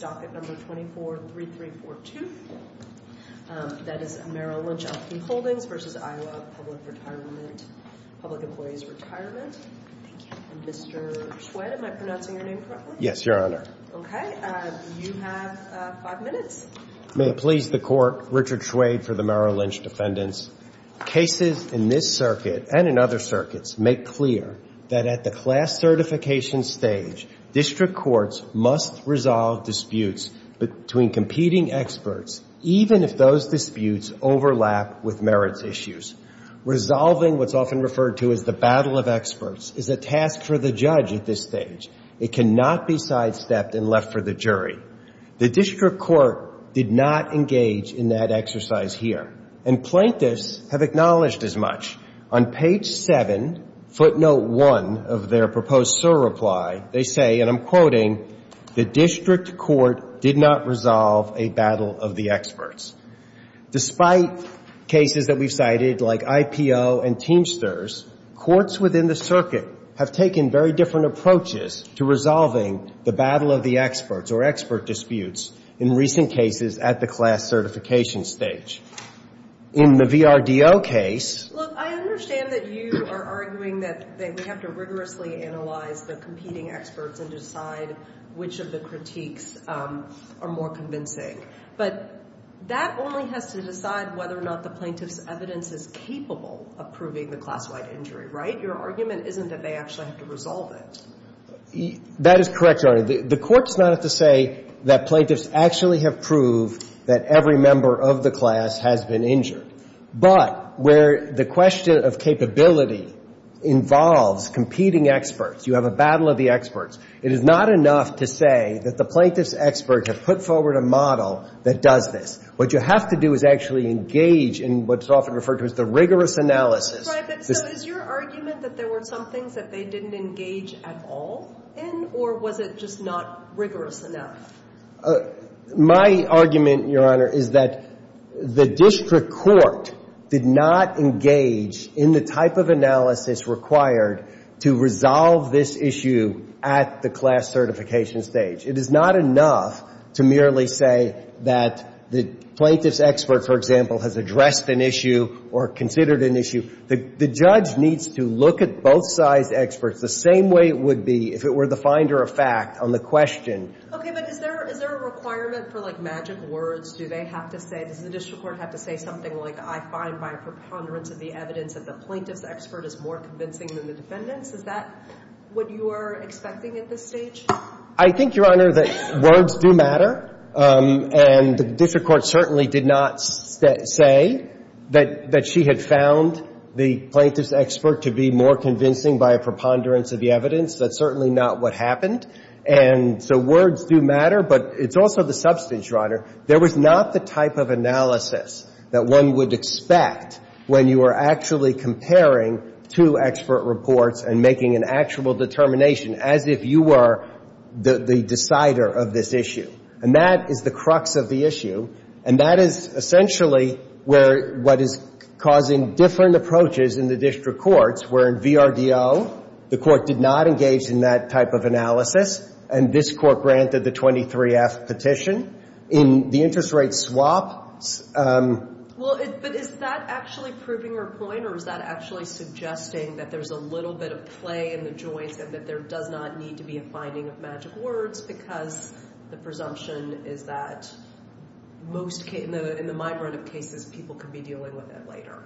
Docket Number 243342. That is Merrill Lynch, Elkin Holdings v. Iowa Public Employees' Retirement. Thank you. Mr. Schwed, am I pronouncing your name correctly? Yes, Your Honor. Okay. You have five minutes. May it please the Court, Richard Schwed for the Merrill Lynch defendants. Cases in this circuit and in other circuits make clear that at the class certification stage, district courts must resolve disputes between competing experts even if those disputes overlap with merits issues. Resolving what's often referred to as the battle of experts is a task for the judge at this stage. It cannot be sidestepped and left for the jury. The district court did not engage in that exercise here, and plaintiffs have acknowledged as much. On page 7, footnote 1 of their proposed SIR reply, they say, and I'm quoting, the district court did not resolve a battle of the experts. Despite cases that we've cited like IPO and Teamsters, courts within the circuit have taken very different approaches to resolving the battle of the experts or expert disputes in recent cases at the class certification stage. In the VRDO case — Look, I understand that you are arguing that we have to rigorously analyze the competing experts and decide which of the critiques are more convincing. But that only has to decide whether or not the plaintiff's evidence is capable of proving the class-wide injury, right? Your argument isn't that they actually have to resolve it. That is correct, Your Honor. The court does not have to say that plaintiffs actually have proved that every member of the class has been injured. But where the question of capability involves competing experts, you have a battle of the experts, it is not enough to say that the plaintiff's experts have put forward a model that does this. What you have to do is actually engage in what's often referred to as the rigorous analysis. So is your argument that there were some things that they didn't engage at all in? Or was it just not rigorous enough? My argument, Your Honor, is that the district court did not engage in the type of analysis required to resolve this issue at the class certification stage. It is not enough to merely say that the plaintiff's expert, for example, has addressed an issue or considered an issue. The judge needs to look at both sides' experts the same way it would be if it were the finder of fact on the question. Okay, but is there a requirement for, like, magic words? Do they have to say, does the district court have to say something like, I find my preponderance of the evidence of the plaintiff's expert is more convincing than the defendant's? Is that what you are expecting at this stage? I think, Your Honor, that words do matter. And the district court certainly did not say that she had found the plaintiff's expert to be more convincing by a preponderance of the evidence. That's certainly not what happened. And so words do matter. But it's also the substance, Your Honor, there was not the type of analysis that one would expect when you were actually comparing two expert reports and making an actual determination, as if you were the decider of this issue. And that is the crux of the issue. And that is essentially what is causing different approaches in the district courts, where in VRDO, the court did not engage in that type of analysis, and this court granted the 23-F petition. In the interest rate swap... Well, but is that actually proving her point, or is that actually suggesting that there's a little bit of play in the joints and that there does not need to be a finding of magic words just because the presumption is that most cases, in the minority of cases, people could be dealing with it later?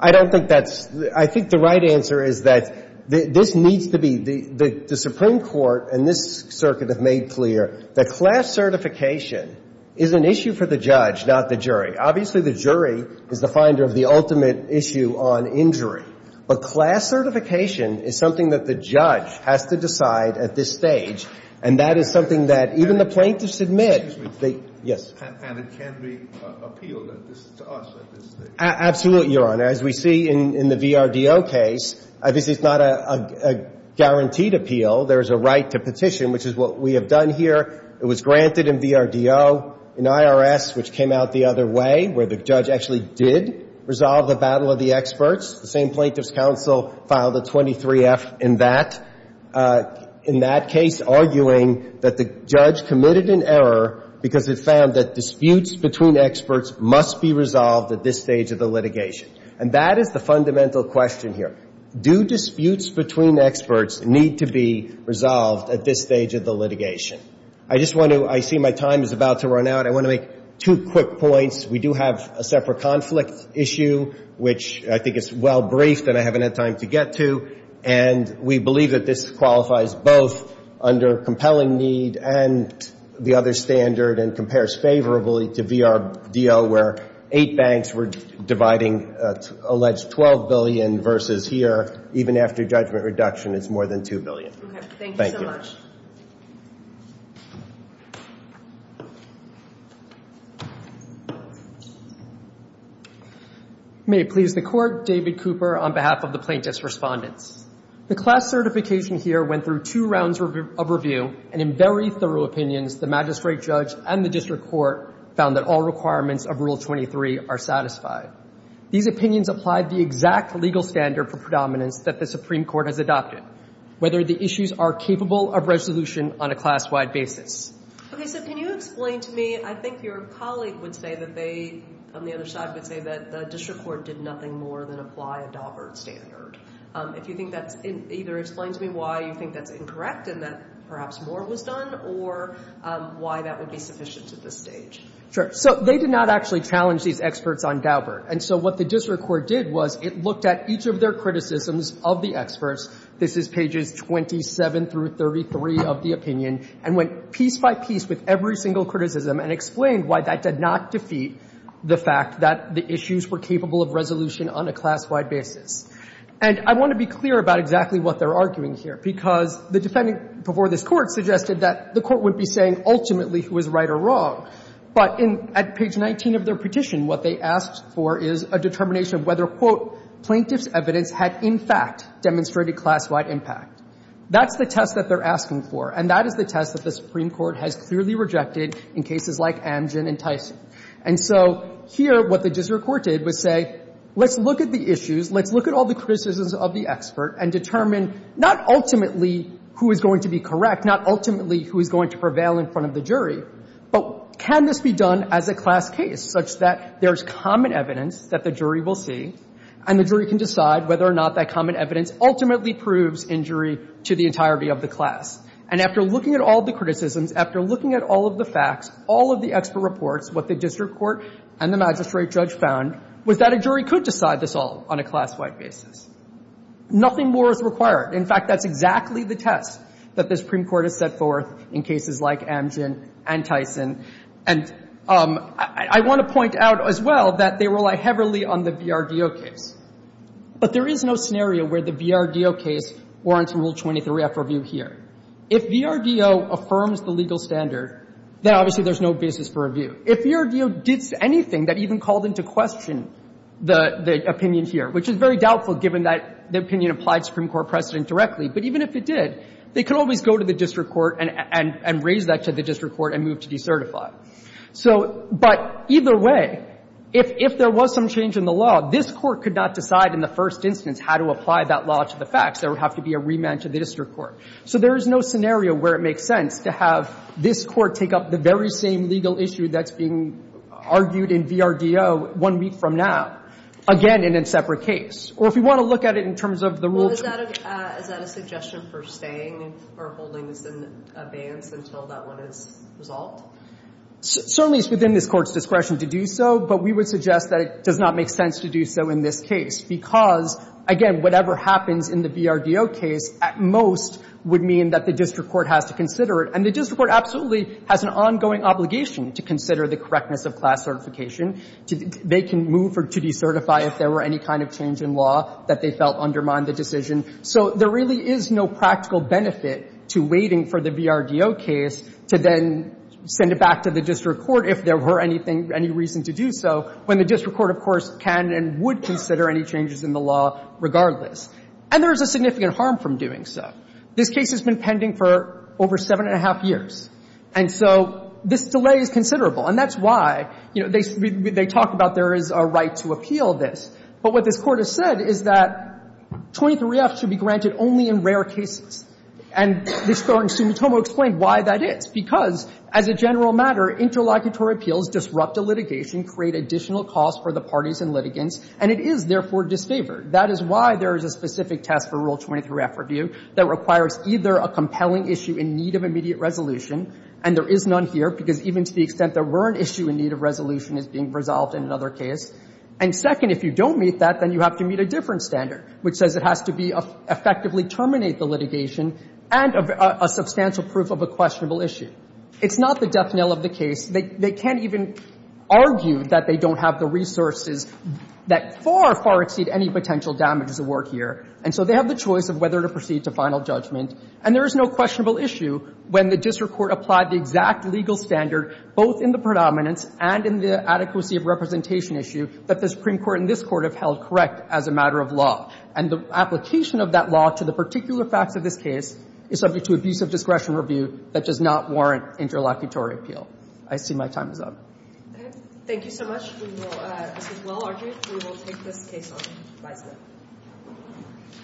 I don't think that's... I think the right answer is that this needs to be... The Supreme Court and this circuit have made clear that class certification is an issue for the judge, not the jury. Obviously, the jury is the finder of the ultimate issue on injury. But class certification is something that the judge has to decide at this stage, and that is something that even the plaintiffs admit. Excuse me. Yes. And it can be appealed to us at this stage? Absolutely, Your Honor. As we see in the VRDO case, this is not a guaranteed appeal. There is a right to petition, which is what we have done here. It was granted in VRDO. In IRS, which came out the other way, where the judge actually did resolve the battle of the experts, the same plaintiffs' counsel filed the 23-F in that. In that case, arguing that the judge committed an error because it found that disputes between experts must be resolved at this stage of the litigation. And that is the fundamental question here. Do disputes between experts need to be resolved at this stage of the litigation? I just want to... I see my time is about to run out. I want to make two quick points. We do have a separate conflict issue, which I think is well briefed and I haven't had time to get to. And we believe that this qualifies both under compelling need and the other standard and compares favorably to VRDO, where eight banks were dividing alleged $12 billion versus here, even after judgment reduction, it's more than $2 billion. Okay. Thank you so much. Thank you. May it please the Court. David Cooper on behalf of the plaintiffs' respondents. The class certification here went through two rounds of review, and in very thorough opinions the magistrate judge and the district court found that all requirements of Rule 23 are satisfied. These opinions apply the exact legal standard for predominance that the Supreme Court has adopted, whether the issues are capable of resolution on a class-wide basis. Okay. So can you explain to me... I think your colleague would say that they, on the other side, would say that the district court did nothing more than apply a Daubert standard. If you think that's... Either explain to me why you think that's incorrect and that perhaps more was done or why that would be sufficient at this stage. Sure. So they did not actually challenge these experts on Daubert. And so what the district court did was it looked at each of their criticisms of the experts. This is pages 27 through 33 of the opinion, and went piece by piece with every single criticism and explained why that did not defeat the fact that the issues were capable of resolution on a class-wide basis. And I want to be clear about exactly what they're arguing here, because the defendant before this Court suggested that the Court would be saying ultimately who is right or wrong. But in at page 19 of their petition, what they asked for is a determination of whether, quote, plaintiff's evidence had in fact demonstrated class-wide impact. That's the test that they're asking for, and that is the test that the Supreme Court has clearly rejected in cases like Amgen and Tyson. And so here what the district court did was say, let's look at the issues, let's look at all the criticisms of the expert and determine not ultimately who is going to be correct, not ultimately who is going to prevail in front of the jury, but can this be done as a class case such that there's common evidence that the jury will see and the jury can decide whether or not that common evidence ultimately proves injury to the entirety of the class. And after looking at all the criticisms, after looking at all of the facts, all of the expert reports, what the district court and the magistrate judge found was that a jury could decide this all on a class-wide basis. Nothing more is required. In fact, that's exactly the test that the Supreme Court has set forth in cases like Amgen and Tyson. And I want to point out as well that they rely heavily on the VRDO case. But there is no scenario where the VRDO case warrants Rule 23 after review here. If VRDO affirms the legal standard, then obviously there's no basis for review. If VRDO did anything that even called into question the opinion here, which is very doubtful given that the opinion applied to the Supreme Court precedent directly, but even if it did, they could always go to the district court and raise that to the certified. So, but either way, if there was some change in the law, this Court could not decide in the first instance how to apply that law to the facts. There would have to be a remand to the district court. So there is no scenario where it makes sense to have this Court take up the very same legal issue that's being argued in VRDO one week from now, again in a separate case. Or if you want to look at it in terms of the Rule 23. Is that a suggestion for staying or holding this in abeyance until that one is resolved? Certainly it's within this Court's discretion to do so. But we would suggest that it does not make sense to do so in this case. Because, again, whatever happens in the VRDO case, at most, would mean that the district court has to consider it. And the district court absolutely has an ongoing obligation to consider the correctness of class certification. They can move to decertify if there were any kind of change in law that they felt undermined the decision. So there really is no practical benefit to waiting for the VRDO case to then send it back to the district court if there were any reason to do so, when the district court, of course, can and would consider any changes in the law regardless. And there is a significant harm from doing so. This case has been pending for over seven and a half years. And so this delay is considerable. And that's why, you know, they talk about there is a right to appeal this. But what this Court has said is that 23-F should be granted only in rare cases. And this Court in Sumitomo explained why that is. Because, as a general matter, interlocutory appeals disrupt a litigation, create additional costs for the parties in litigants, and it is, therefore, disfavored. That is why there is a specific test for Rule 23-F review that requires either a compelling issue in need of immediate resolution, and there is none here, because even to the extent there were an issue in need of resolution, it's being resolved in another case. And second, if you don't meet that, then you have to meet a different standard, which says it has to be effectively terminate the litigation and a substantial proof of a questionable issue. It's not the death knell of the case. They can't even argue that they don't have the resources that far, far exceed any potential damages at work here. And so they have the choice of whether to proceed to final judgment. And there is no questionable issue when the district court applied the exact legal standard, both in the predominance and in the adequacy of representation issue, that the Supreme Court and this Court have held correct as a matter of law. And the application of that law to the particular facts of this case is subject to abusive discretion review that does not warrant interlocutory appeal. I see my time is up. Thank you so much. This is well-argued. We will take this case on. Bye, sir.